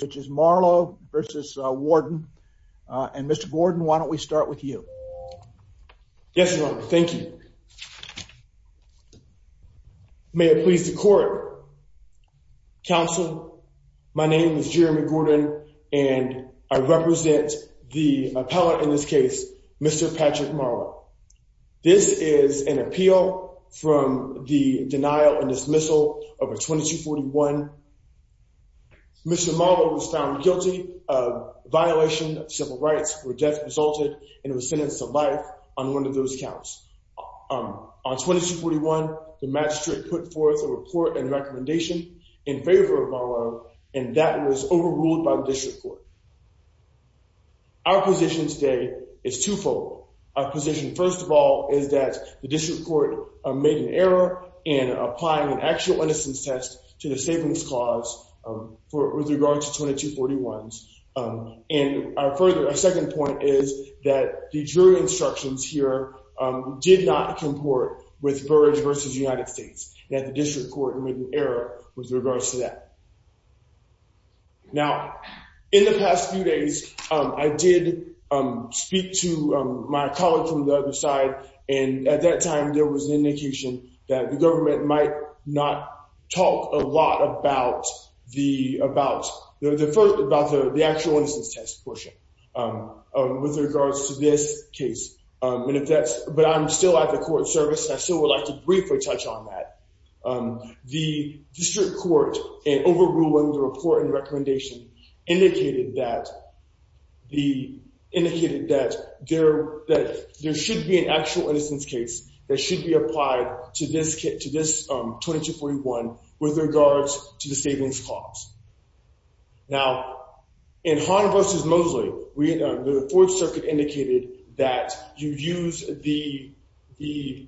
which is Marlowe versus Warden and Mr. Gordon, why don't we start with you? Yes, Your Honor. Thank you. May it please the court. Counsel, my name is Jeremy Gordon and I represent the appellate in this case, Mr. Patrick Marlowe. This is an appeal from the denial and dismissal of a 2241. Mr. Marlowe was found guilty of violation of civil rights where death resulted and was sentenced to life on one of those counts. On 2241, the magistrate put forth a report and recommendation in favor of Marlowe and that was overruled by the district court. Our position today is twofold. Our position, first of all, is that the district court made an error in applying an actual innocence test to the savings clause with regard to 2241s. And our second point is that the jury instructions here did not comport with Burrage versus United States. That the district court made an error with regards to that. Now, in the past few days, I did speak to my colleague from the other side, and at that time there was an indication that the government might not talk a lot about the actual innocence test portion with regards to this case. But I'm still at the court service and I still would like to briefly touch on that. The district court, in overruling the report and recommendation, indicated that there should be an actual innocence case that should be applied to this 2241 with regards to the savings clause. Now, in Hahn versus Mosley, the 4th Circuit indicated that you use the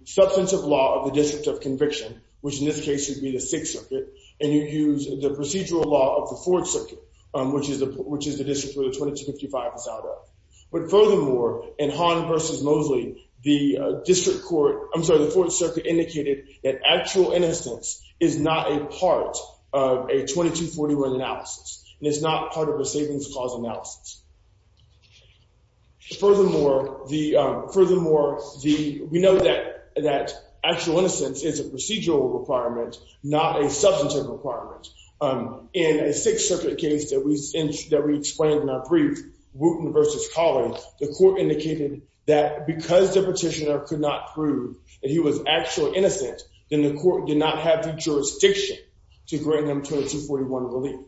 substantive law of the District of Conviction, which in this case would be the 6th Circuit, and you use the procedural law of the 4th Circuit, which is the district where the 2255 is out of. But furthermore, in Hahn versus Mosley, the district court, I'm sorry, the 4th Circuit indicated that actual innocence is not a part of a 2241 analysis, and it's not part of a savings clause analysis. Furthermore, we know that actual innocence is a procedural requirement, not a substantive requirement. In a 6th Circuit case that we explained in our brief, Wooten versus Colley, the court indicated that because the petitioner could not prove that he was actually innocent, then the court did not have the jurisdiction to grant him 2241 relief.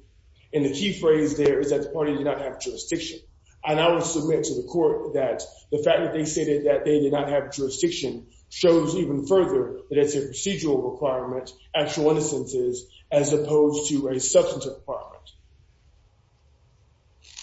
And the key phrase there is that the party did not have jurisdiction. And I will submit to the court that the fact that they stated that they did not have jurisdiction shows even further that it's a procedural requirement, actual innocence is, as opposed to a substantive requirement.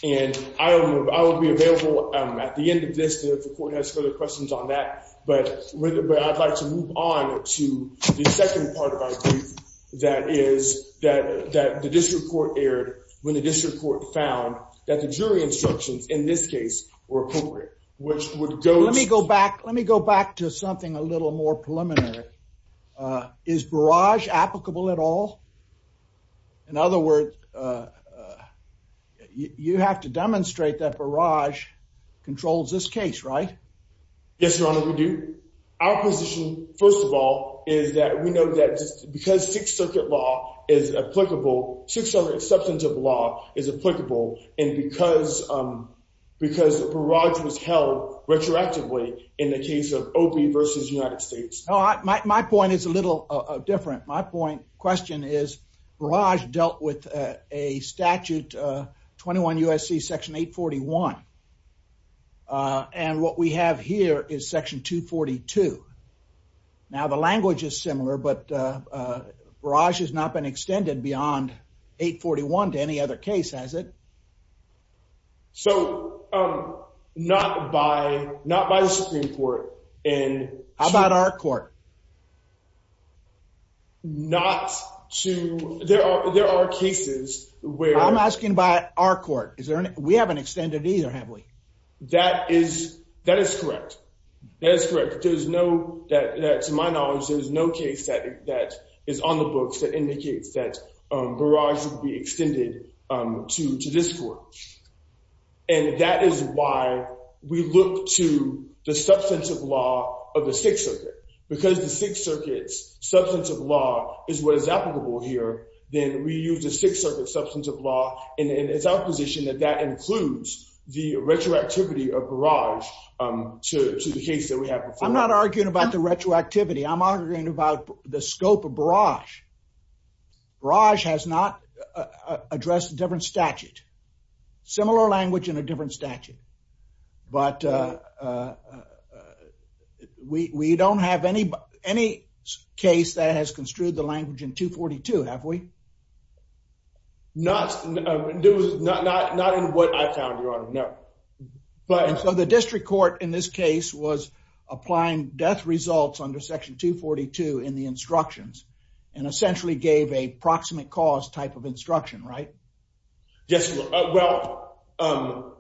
And I will be available at the end of this if the court has further questions on that. But I'd like to move on to the second part of our brief, that is, that the district court erred when the district court found that the jury instructions in this case were appropriate, which would go to- Let me go back. Let me go back to something a little more preliminary. Is barrage applicable at all? In other words, you have to demonstrate that barrage controls this case, right? Yes, Your Honor, we do. Our position, first of all, is that we know that because 6th Circuit law is applicable, 6th Circuit substantive law is applicable, and because the barrage was held retroactively in the case of Opie versus United States. My point is a little different. My point, question is, barrage dealt with a statute, 21 U.S.C. section 841, and what we have here is section 242. Now, the language is similar, but barrage has not been extended beyond 841 to any other case, has it? So, not by the Supreme Court. How about our court? There are cases where- I'm asking about our court. We haven't extended either, have we? That is correct. That is correct. To my knowledge, there is no case that is on the books that indicates that barrage would be extended to this court. And that is why we look to the substantive law of the 6th Circuit. Because the 6th Circuit's substantive law is what is applicable here, then we use the 6th Circuit's substantive law, and it's our position that that includes the retroactivity of barrage to the case that we have before us. I'm not arguing about the retroactivity. I'm arguing about the scope of barrage. Barrage has not addressed a different statute. Similar language in a different statute. But we don't have any case that has construed the language in 242, have we? Not in what I found, Your Honor, no. So the district court in this case was applying death results under section 242 in the instructions, and essentially gave a proximate cause type of instruction, right? Yes, Your Honor. Well,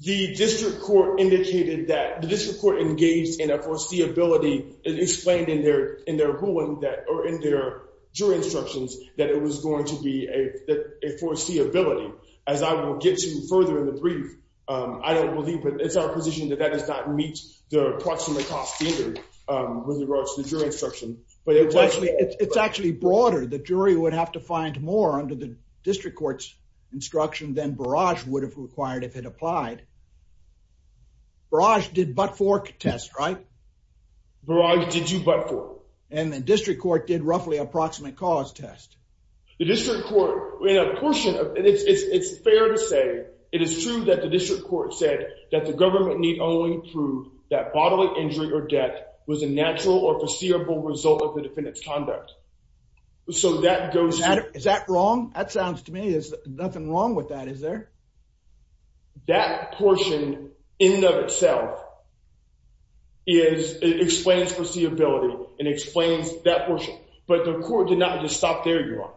the district court indicated that, the district court engaged in a foreseeability and explained in their ruling that, or in their jury instructions, that it was going to be a foreseeability. As I will get to further in the brief, I don't believe, but it's our position that that does not meet the proximate cause standard with regards to the jury instruction. It's actually broader. The jury would have to find more under the district court's instruction than barrage would have required if it applied. Barrage did butt fork test, right? Barrage did do butt fork. And the district court did roughly approximate cause test. The district court, in a portion of, it's fair to say, it is true that the district court said that the government need only prove that bodily injury or death was a natural or foreseeable result of the defendant's conduct. So that goes to- Is that wrong? That sounds to me, there's nothing wrong with that, is there? That portion, in and of itself, explains foreseeability and explains that portion. But the court did not just stop there, Your Honor.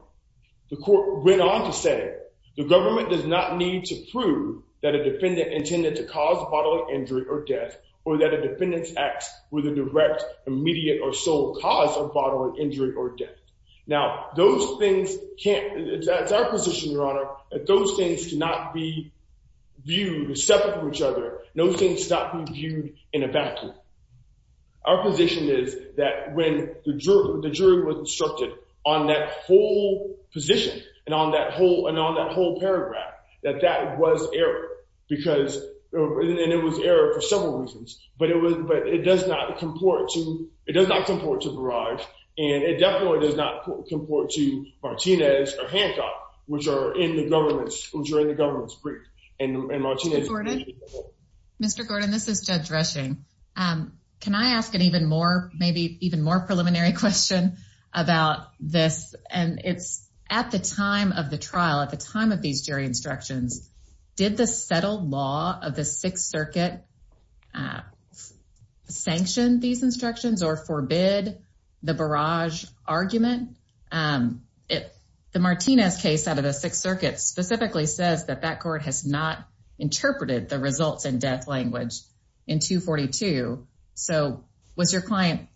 The court went on to say, the government does not need to prove that a defendant intended to cause bodily injury or death or that a defendant's acts were the direct, immediate, or sole cause of bodily injury or death. Now, those things can't, it's our position, Your Honor, that those things cannot be viewed separate from each other. Those things cannot be viewed in a vacuum. Our position is that when the jury was instructed on that whole position and on that whole paragraph, that that was error. And it was error for several reasons, but it does not comport to Barrage, and it definitely does not comport to Martinez or Hancock, which are in the government's brief. Mr. Gordon, this is Judge Reshing. Can I ask an even more, maybe even more preliminary question about this? And it's at the time of the trial, at the time of these jury instructions, did the settled law of the Sixth Circuit sanction these instructions or forbid the Barrage argument? The Martinez case out of the Sixth Circuit specifically says that that court has not interpreted the results in death language in 242. So was your client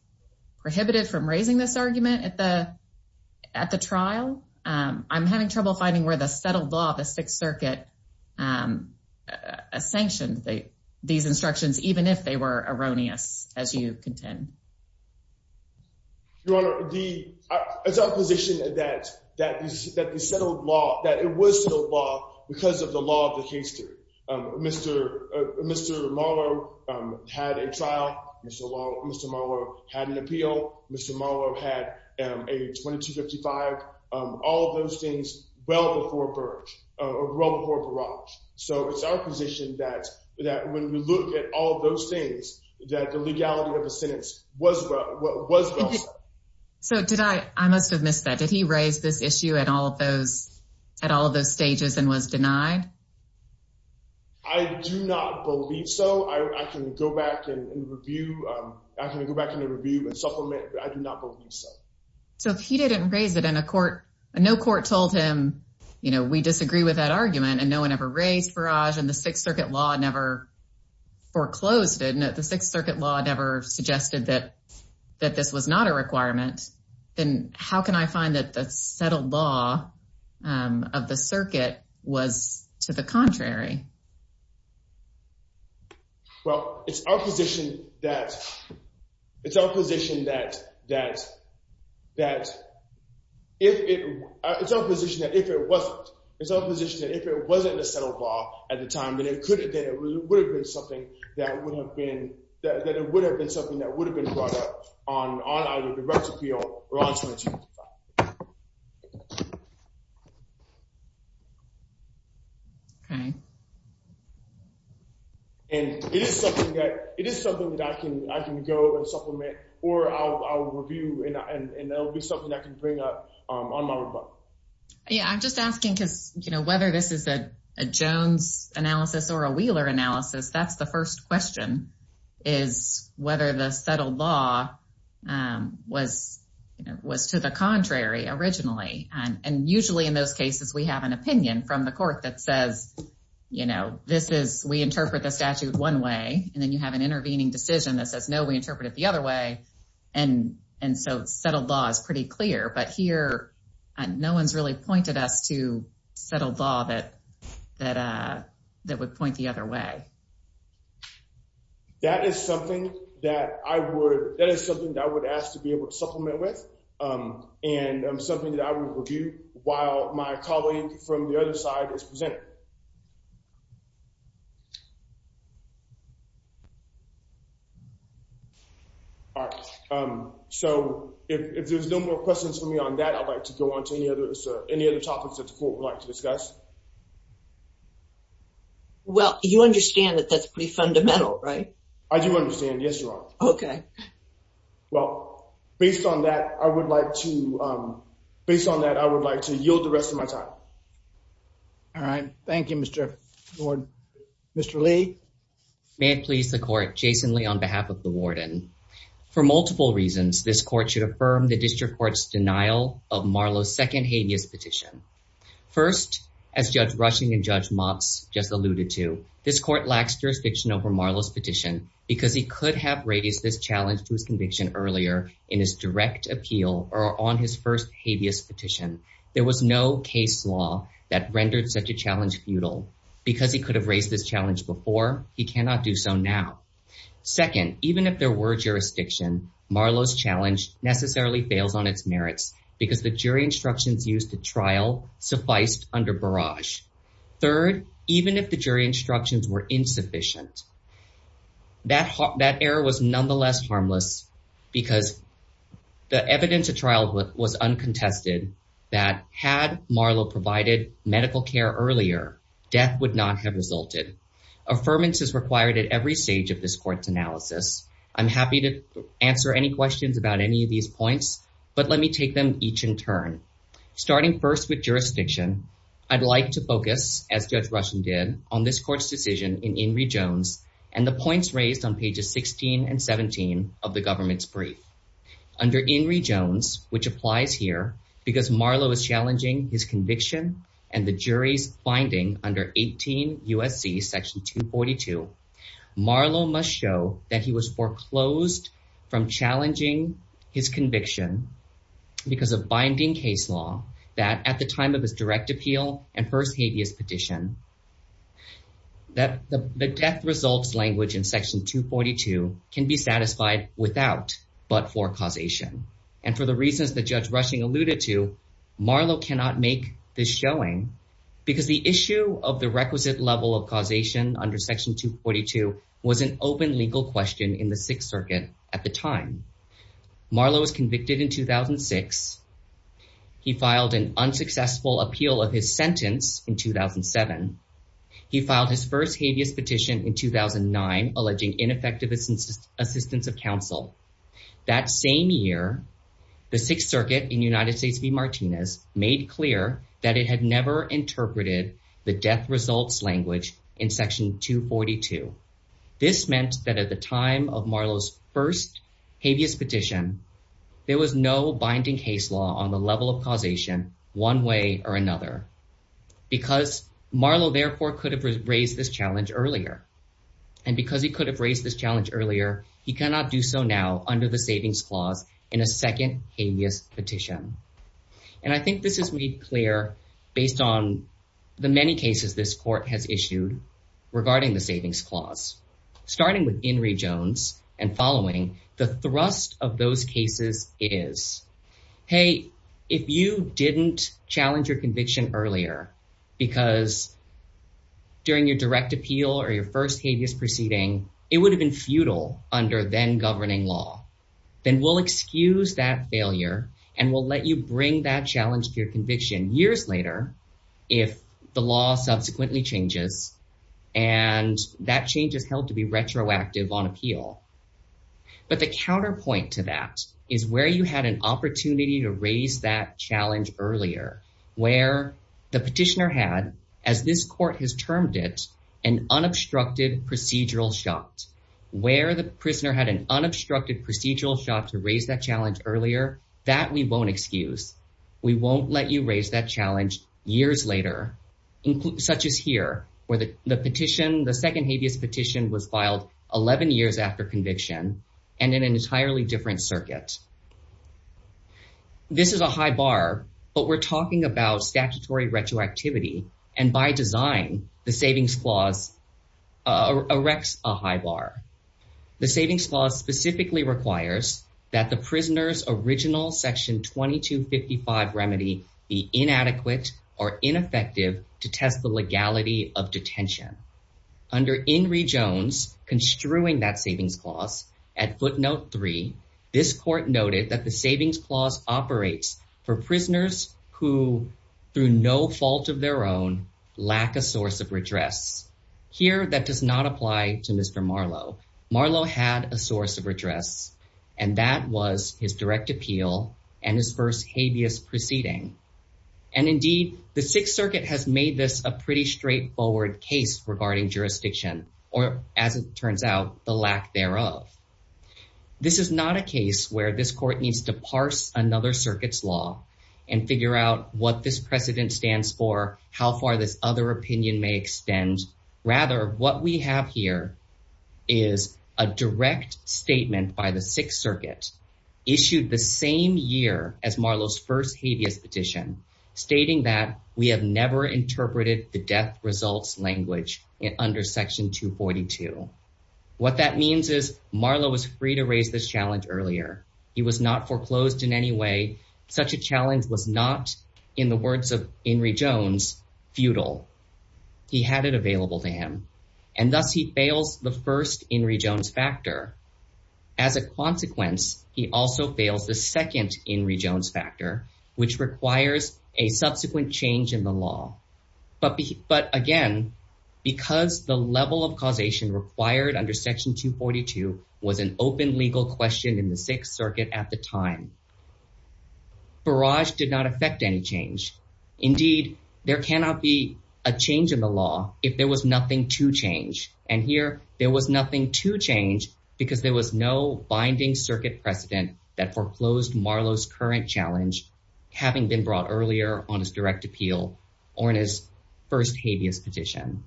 prohibited from raising this argument at the trial? I'm having trouble finding where the settled law of the Sixth Circuit sanctioned these instructions, even if they were erroneous, as you contend. Your Honor, it's our position that the settled law, that it was settled law because of the law of the case theory. Mr. Marlowe had a trial. Mr. Marlowe had an appeal. Mr. Marlowe had a 2255. All of those things well before Barrage. So it's our position that when we look at all of those things, that the legality of the sentence was well set. So did I, I must have missed that. Did he raise this issue at all of those, at all of those stages and was denied? I do not believe so. I can go back and review. I can go back and review and supplement, but I do not believe so. So if he didn't raise it in a court, no court told him, you know, we disagree with that argument and no one ever raised Barrage and the Sixth Circuit law never foreclosed it. The Sixth Circuit law never suggested that, that this was not a requirement. Then how can I find that the settled law of the circuit was to the contrary? Well, it's our position that, it's our position that, that, that if it, it's our position that if it wasn't, it's our position that if it wasn't a settled law at the time, then it could have been, it would have been something that would have been, that it would have been something that would have been brought up on either direct appeal or on 2255. Okay. And it is something that, it is something that I can, I can go and supplement or I'll review and that'll be something I can bring up on my rebuttal. Yeah, I'm just asking because, you know, whether this is a Jones analysis or a Wheeler analysis, that's the first question is whether the settled law was, you know, was to the contrary originally. And usually in those cases, we have an opinion from the court that says, you know, this is, we interpret the statute one way and then you have an intervening decision that says, no, we interpret it the other way. And, and so settled law is pretty clear, but here, no one's really pointed us to settled law that, that, that would point the other way. That is something that I would, that is something that I would ask to be able to supplement with and something that I would review while my colleague from the other side is presenting. All right. So, if there's no more questions for me on that, I'd like to go on to any other, any other topics that the court would like to discuss. Well, you understand that that's pretty fundamental, right? I do understand. Yes, Your Honor. Okay. Well, based on that, I would like to, based on that, I would like to yield the rest of my time. All right. Thank you, Mr. Warden. Mr. Lee. May it please the court, Jason Lee on behalf of the warden. For multiple reasons, this court should affirm the district court's denial of Marlowe's second habeas petition. First, as Judge Rushing and Judge Motz just alluded to, this court lacks jurisdiction over Marlowe's petition because he could have raised this challenge to his conviction earlier in his direct appeal or on his first habeas petition. There was no case law that rendered such a challenge futile. Because he could have raised this challenge before, he cannot do so now. Second, even if there were jurisdiction, Marlowe's challenge necessarily fails on its merits because the jury instructions used to trial sufficed under barrage. Third, even if the jury instructions were insufficient, that error was nonetheless harmless because the evidence of trial was uncontested that had Marlowe provided medical care earlier, death would not have resulted. Affirmance is required at every stage of this court's analysis. I'm happy to answer any questions about any of these points, but let me take them each in turn. Starting first with jurisdiction, I'd like to focus, as Judge Rushing did, on this court's decision in Inree Jones and the points raised on pages 16 and 17 of the government's brief. Under Inree Jones, which applies here because Marlowe is challenging his conviction and the jury's finding under 18 U.S.C. section 242, Marlowe must show that he was foreclosed from challenging his conviction because of binding case law that at the time of his direct appeal and first habeas petition. That the death results language in section 242 can be satisfied without but for causation. And for the reasons that Judge Rushing alluded to, Marlowe cannot make this showing because the issue of the requisite level of causation under section 242 was an open legal question in the Sixth Circuit at the time. Marlowe was convicted in 2006. He filed an unsuccessful appeal of his sentence in 2007. He filed his first habeas petition in 2009, alleging ineffective assistance of counsel. That same year, the Sixth Circuit in United States v. Martinez made clear that it had never interpreted the death results language in section 242. This meant that at the time of Marlowe's first habeas petition, there was no binding case law on the level of causation one way or another. Because Marlowe, therefore, could have raised this challenge earlier. And because he could have raised this challenge earlier, he cannot do so now under the savings clause in a second habeas petition. And I think this is made clear based on the many cases this court has issued regarding the savings clause. Starting with Henry Jones and following the thrust of those cases is, hey, if you didn't challenge your conviction earlier because during your direct appeal or your first habeas proceeding, it would have been futile under then governing law. Then we'll excuse that failure and we'll let you bring that challenge to your conviction years later if the law subsequently changes and that change is held to be retroactive on appeal. But the counterpoint to that is where you had an opportunity to raise that challenge earlier, where the petitioner had, as this court has termed it, an unobstructed procedural shot. Where the prisoner had an unobstructed procedural shot to raise that challenge earlier, that we won't excuse. We won't let you raise that challenge years later, such as here, where the petition, the second habeas petition was filed 11 years after conviction and in an entirely different circuit. This is a high bar, but we're talking about statutory retroactivity and by design, the savings clause erects a high bar. The savings clause specifically requires that the prisoner's original section 2255 remedy be inadequate or ineffective to test the legality of detention. Under Henry Jones construing that savings clause at footnote three, this court noted that the savings clause operates for prisoners who, through no fault of their own, lack a source of redress. Here, that does not apply to Mr. Marlowe. Marlowe had a source of redress and that was his direct appeal and his first habeas proceeding. And indeed, the Sixth Circuit has made this a pretty straightforward case regarding jurisdiction, or as it turns out, the lack thereof. This is not a case where this court needs to parse another circuit's law and figure out what this precedent stands for, how far this other opinion may extend. Rather, what we have here is a direct statement by the Sixth Circuit issued the same year as Marlowe's first habeas petition, stating that we have never interpreted the death results language under section 242. What that means is Marlowe was free to raise this challenge earlier. He was not foreclosed in any way. Such a challenge was not, in the words of Henry Jones, futile. He had it available to him, and thus he fails the first Henry Jones factor. As a consequence, he also fails the second Henry Jones factor, which requires a subsequent change in the law. But again, because the level of causation required under section 242 was an open legal question in the Sixth Circuit at the time. Barrage did not affect any change. Indeed, there cannot be a change in the law if there was nothing to change. And here, there was nothing to change because there was no binding circuit precedent that foreclosed Marlowe's current challenge having been brought earlier on his direct appeal or in his first habeas petition.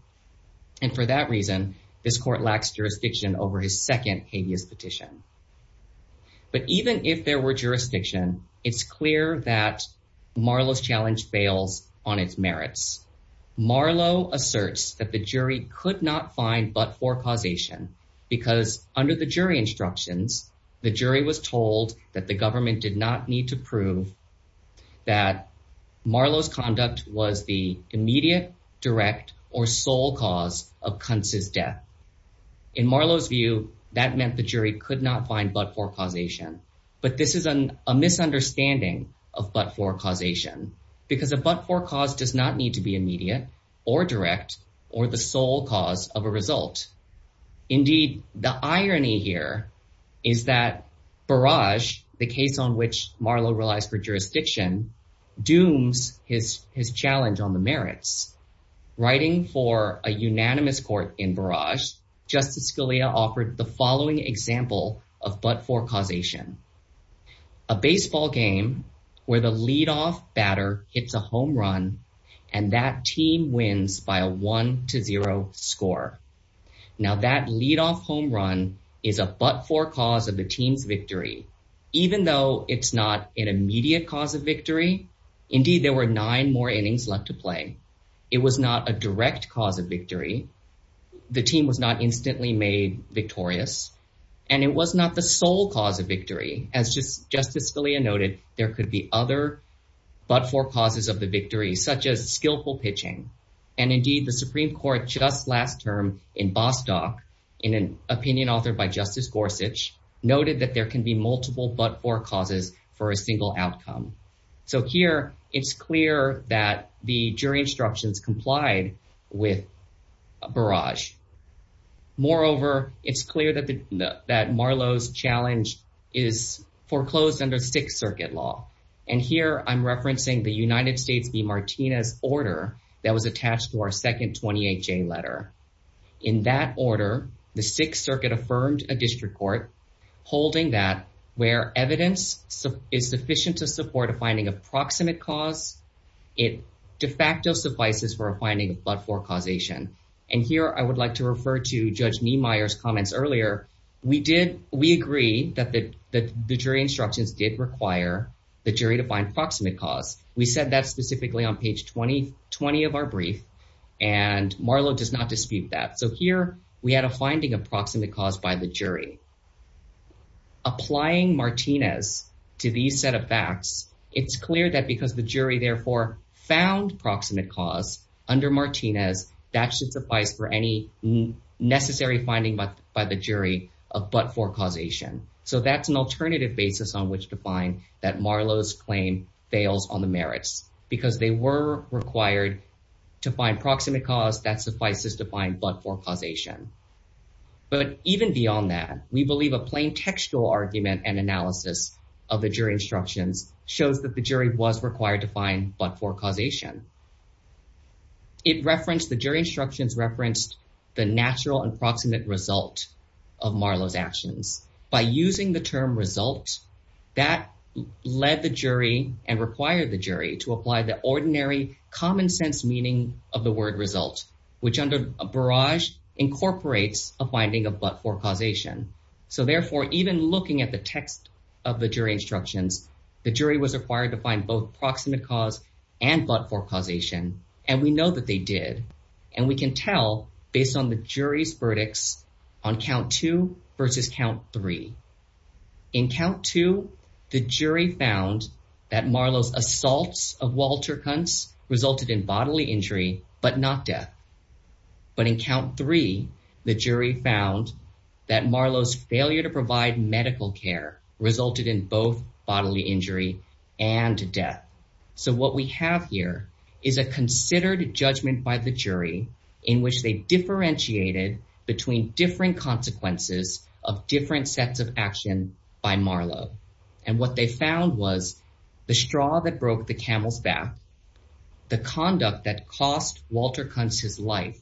And for that reason, this court lacks jurisdiction over his second habeas petition. But even if there were jurisdiction, it's clear that Marlowe's challenge fails on its merits. Marlowe asserts that the jury could not find but for causation because under the jury instructions, the jury was told that the government did not need to prove that Marlowe's conduct was the immediate, direct, or sole cause of Kuntz's death. In Marlowe's view, that meant the jury could not find but for causation. But this is a misunderstanding of but for causation because a but for cause does not need to be immediate or direct or the sole cause of a result. Indeed, the irony here is that Barrage, the case on which Marlowe relies for jurisdiction, dooms his challenge on the merits. Writing for a unanimous court in Barrage, Justice Scalia offered the following example of but for causation. A baseball game where the leadoff batter hits a home run and that team wins by a one to zero score. Now that leadoff home run is a but for cause of the team's victory, even though it's not an immediate cause of victory. Indeed, there were nine more innings left to play. It was not a direct cause of victory. The team was not instantly made victorious, and it was not the sole cause of victory. As Justice Scalia noted, there could be other but for causes of the victory, such as skillful pitching. And indeed, the Supreme Court just last term in Bostock, in an opinion authored by Justice Gorsuch, noted that there can be multiple but for causes for a single outcome. So here, it's clear that the jury instructions complied with Barrage. Moreover, it's clear that Marlowe's challenge is foreclosed under Sixth Circuit law. And here, I'm referencing the United States v. Martinez order that was attached to our second 28-J letter. In that order, the Sixth Circuit affirmed a district court holding that where evidence is sufficient to support a finding of proximate cause, it de facto suffices for a finding of but for causation. And here, I would like to refer to Judge Niemeyer's comments earlier. We agree that the jury instructions did require the jury to find proximate cause. We said that specifically on page 20 of our brief, and Marlowe does not dispute that. So here, we had a finding of proximate cause by the jury. Applying Martinez to these set of facts, it's clear that because the jury therefore found proximate cause under Martinez, that should suffice for any necessary finding by the jury of but for causation. So that's an alternative basis on which to find that Marlowe's claim fails on the merits. Because they were required to find proximate cause that suffices to find but for causation. But even beyond that, we believe a plain textual argument and analysis of the jury instructions shows that the jury was required to find but for causation. The jury instructions referenced the natural and proximate result of Marlowe's actions. By using the term result, that led the jury and required the jury to apply the ordinary common sense meaning of the word result, which under a barrage incorporates a finding of but for causation. So therefore, even looking at the text of the jury instructions, the jury was required to find both proximate cause and but for causation. And we know that they did. And we can tell based on the jury's verdicts on count two versus count three. In count two, the jury found that Marlowe's assaults of Walter Kuntz resulted in bodily injury, but not death. But in count three, the jury found that Marlowe's failure to provide medical care resulted in both bodily injury and death. So what we have here is a considered judgment by the jury in which they differentiated between different consequences of different sets of action by Marlowe. And what they found was the straw that broke the camel's back, the conduct that cost Walter Kuntz his life,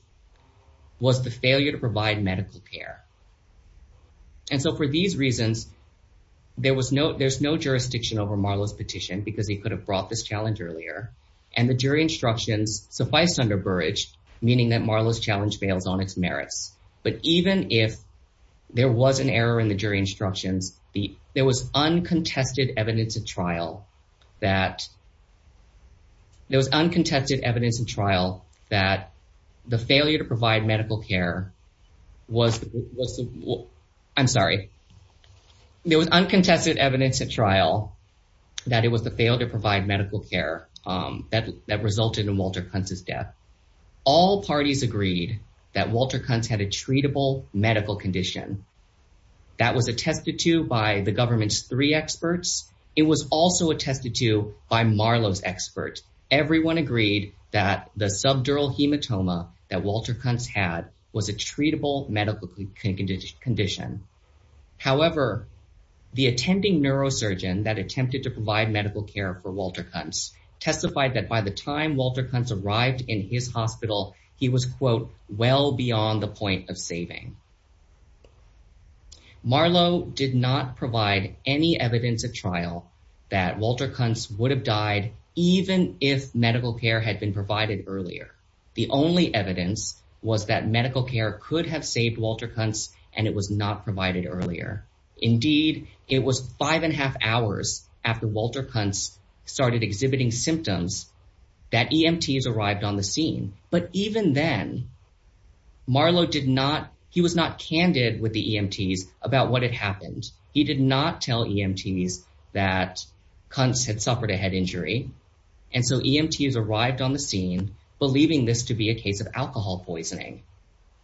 was the failure to provide medical care. And so for these reasons, there was no there's no jurisdiction over Marlowe's petition because he could have brought this challenge earlier. And the jury instructions sufficed under Burrage, meaning that Marlowe's challenge fails on its merits. But even if there was an error in the jury instructions, there was uncontested evidence at trial that there was uncontested evidence in trial that the failure to provide medical care was. I'm sorry. There was uncontested evidence at trial that it was the failure to provide medical care that resulted in Walter Kuntz's death. All parties agreed that Walter Kuntz had a treatable medical condition that was attested to by the government's three experts. It was also attested to by Marlowe's experts. Everyone agreed that the subdural hematoma that Walter Kuntz had was a treatable medical condition. However, the attending neurosurgeon that attempted to provide medical care for Walter Kuntz testified that by the time Walter Kuntz arrived in his hospital, he was, quote, well beyond the point of saving. Marlowe did not provide any evidence at trial that Walter Kuntz would have died even if medical care had been provided earlier. The only evidence was that medical care could have saved Walter Kuntz and it was not provided earlier. Indeed, it was five and a half hours after Walter Kuntz started exhibiting symptoms that EMTs arrived on the scene. But even then, Marlowe did not, he was not candid with the EMTs about what had happened. He did not tell EMTs that Kuntz had suffered a head injury. And so EMTs arrived on the scene believing this to be a case of alcohol poisoning.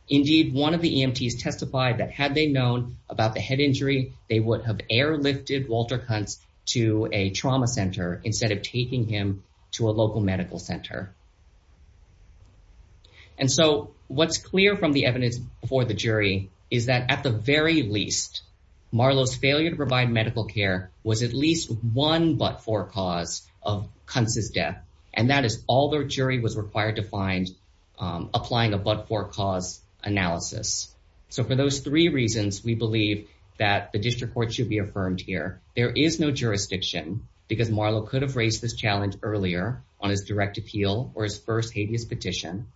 Indeed, one of the EMTs testified that had they known about the head injury, they would have airlifted Walter Kuntz to a trauma center instead of taking him to a local medical center. And so what's clear from the evidence before the jury is that at the very least, Marlowe's failure to provide medical care was at least one but-for cause of Kuntz's death. And that is all the jury was required to find applying a but-for-cause analysis. So for those three reasons, we believe that the district court should be affirmed here. There is no jurisdiction because Marlowe could have raised this challenge earlier on his direct appeal or his first habeas petition.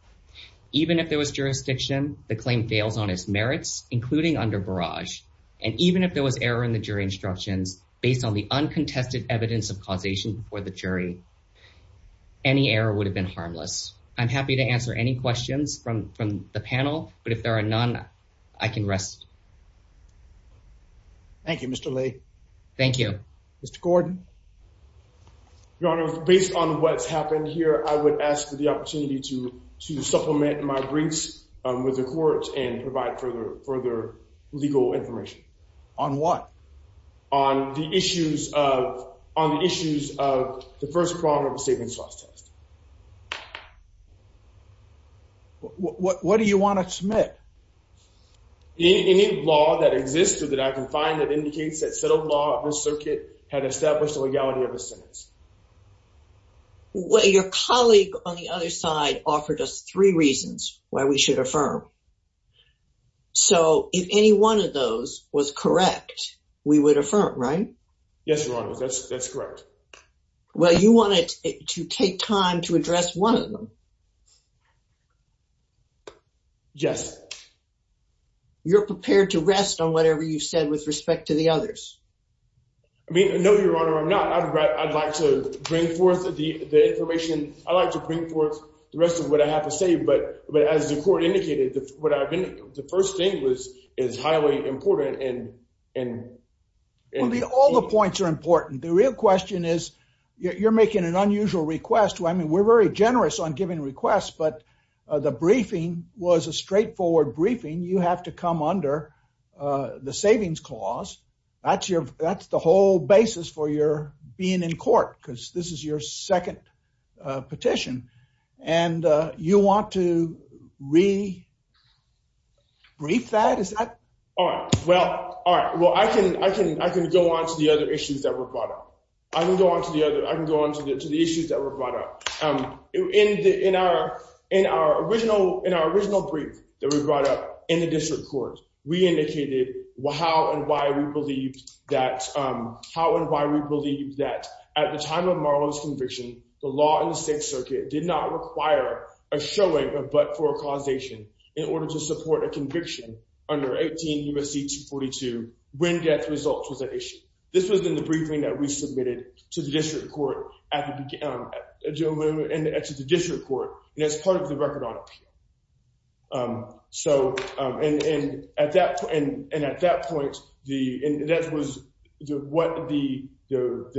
Even if there was jurisdiction, the claim fails on its merits, including under barrage. And even if there was error in the jury instructions based on the uncontested evidence of causation before the jury, any error would have been harmless. I'm happy to answer any questions from the panel, but if there are none, I can rest. Thank you, Mr. Lee. Thank you. Mr. Gordon. Your Honor, based on what's happened here, I would ask for the opportunity to supplement my briefs with the court and provide further legal information. On what? On the issues of the first problem of the savings loss test. What do you want to submit? Any law that exists or that I can find that indicates that settled law of the circuit had established the legality of the sentence. Well, your colleague on the other side offered us three reasons why we should affirm. So if any one of those was correct, we would affirm, right? Yes, Your Honor, that's correct. Well, you wanted to take time to address one of them. Yes. You're prepared to rest on whatever you said with respect to the others. I mean, no, Your Honor, I'm not. I'd like to bring forth the information. I'd like to bring forth the rest of what I have to say. But as the court indicated, the first thing is highly important. All the points are important. The real question is you're making an unusual request. I mean, we're very generous on giving requests, but the briefing was a straightforward briefing. You have to come under the savings clause. That's the whole basis for your being in court, because this is your second petition. And you want to re-brief that? All right. Well, I can go on to the other issues that were brought up. In our original brief that we brought up in the district court, we indicated how and why we believe that at the time of Marlowe's conviction, the law in the Sixth Circuit did not require a showing of but-for-causation in order to support a conviction under 18 U.S.C. 242 when death results was at issue. This was in the briefing that we submitted to the district court and as part of the record on appeal. And at that point, that was what the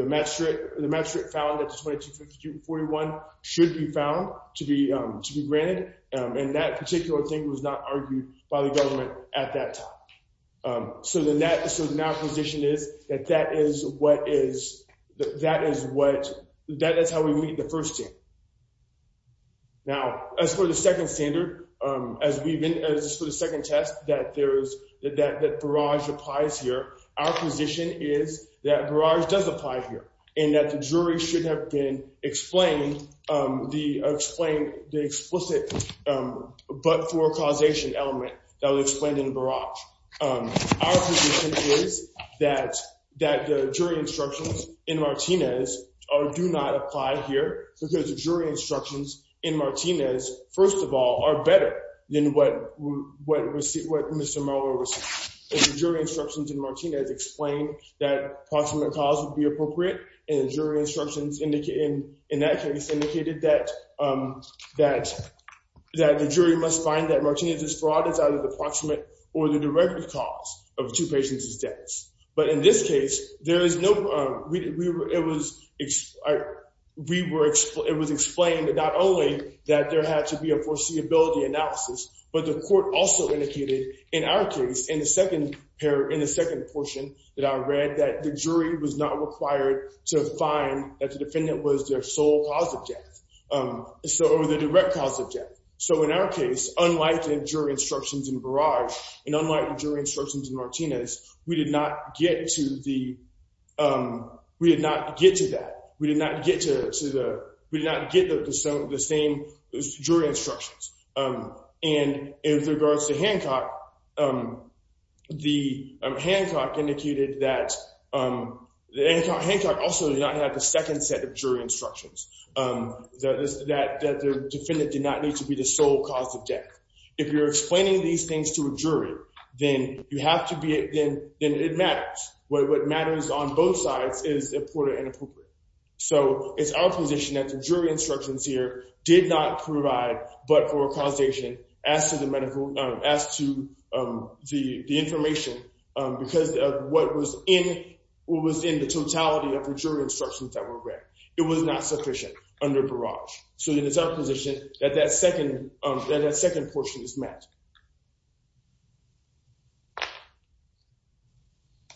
magistrate found that the 2251 should be found to be granted. And that particular thing was not argued by the government at that time. So our position is that that is how we meet the first team. Now, as for the second standard, as for the second test that Barrage applies here, our position is that Barrage does apply here and that the jury should have explained the explicit but-for-causation element that was explained in Barrage. Our position is that the jury instructions in Martinez do not apply here because the jury instructions in Martinez, first of all, are better than what Mr. Marlowe was saying. Our position is that the jury instructions in Martinez explain that approximate cause would be appropriate and the jury instructions in that case indicated that the jury must find that Martinez's fraud is either approximate or the direct cause of two patients' deaths. But in this case, it was explained not only that there had to be a foreseeability analysis, but the court also indicated in our case, in the second portion that I read, that the jury was not required to find that the defendant was their sole cause of death or the direct cause of death. So in our case, unlike the jury instructions in Barrage and unlike the jury instructions in Martinez, we did not get to that. We did not get the same jury instructions. And in regards to Hancock, Hancock also did not have the second set of jury instructions, that the defendant did not need to be the sole cause of death. If you're explaining these things to a jury, then it matters. What matters on both sides is important and appropriate. So it's our position that the jury instructions here did not provide but for causation as to the information because of what was in the totality of the jury instructions that were read. It was not sufficient under Barrage. So then it's our position that that second portion is met.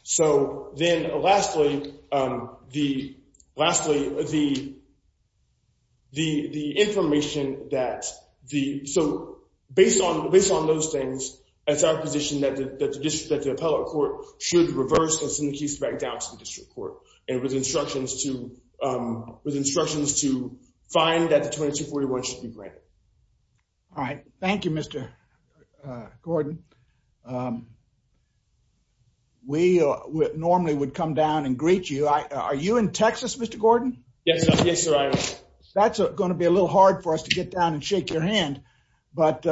So then lastly, the information that the, so based on those things, it's our position that the appellate court should reverse and send the case back down to the district court and with instructions to find that the 2241 should be granted. All right. Thank you, Mr. Gordon. We normally would come down and greet you. Are you in Texas, Mr. Gordon? Yes, sir. That's going to be a little hard for us to get down and shake your hand. But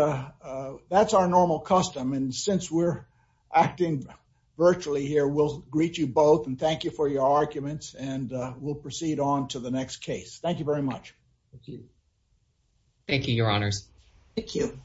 that's our normal custom. And since we're acting virtually here, we'll greet you both. And thank you for your arguments. And we'll proceed on to the next case. Thank you very much. Thank you, your honors. Thank you.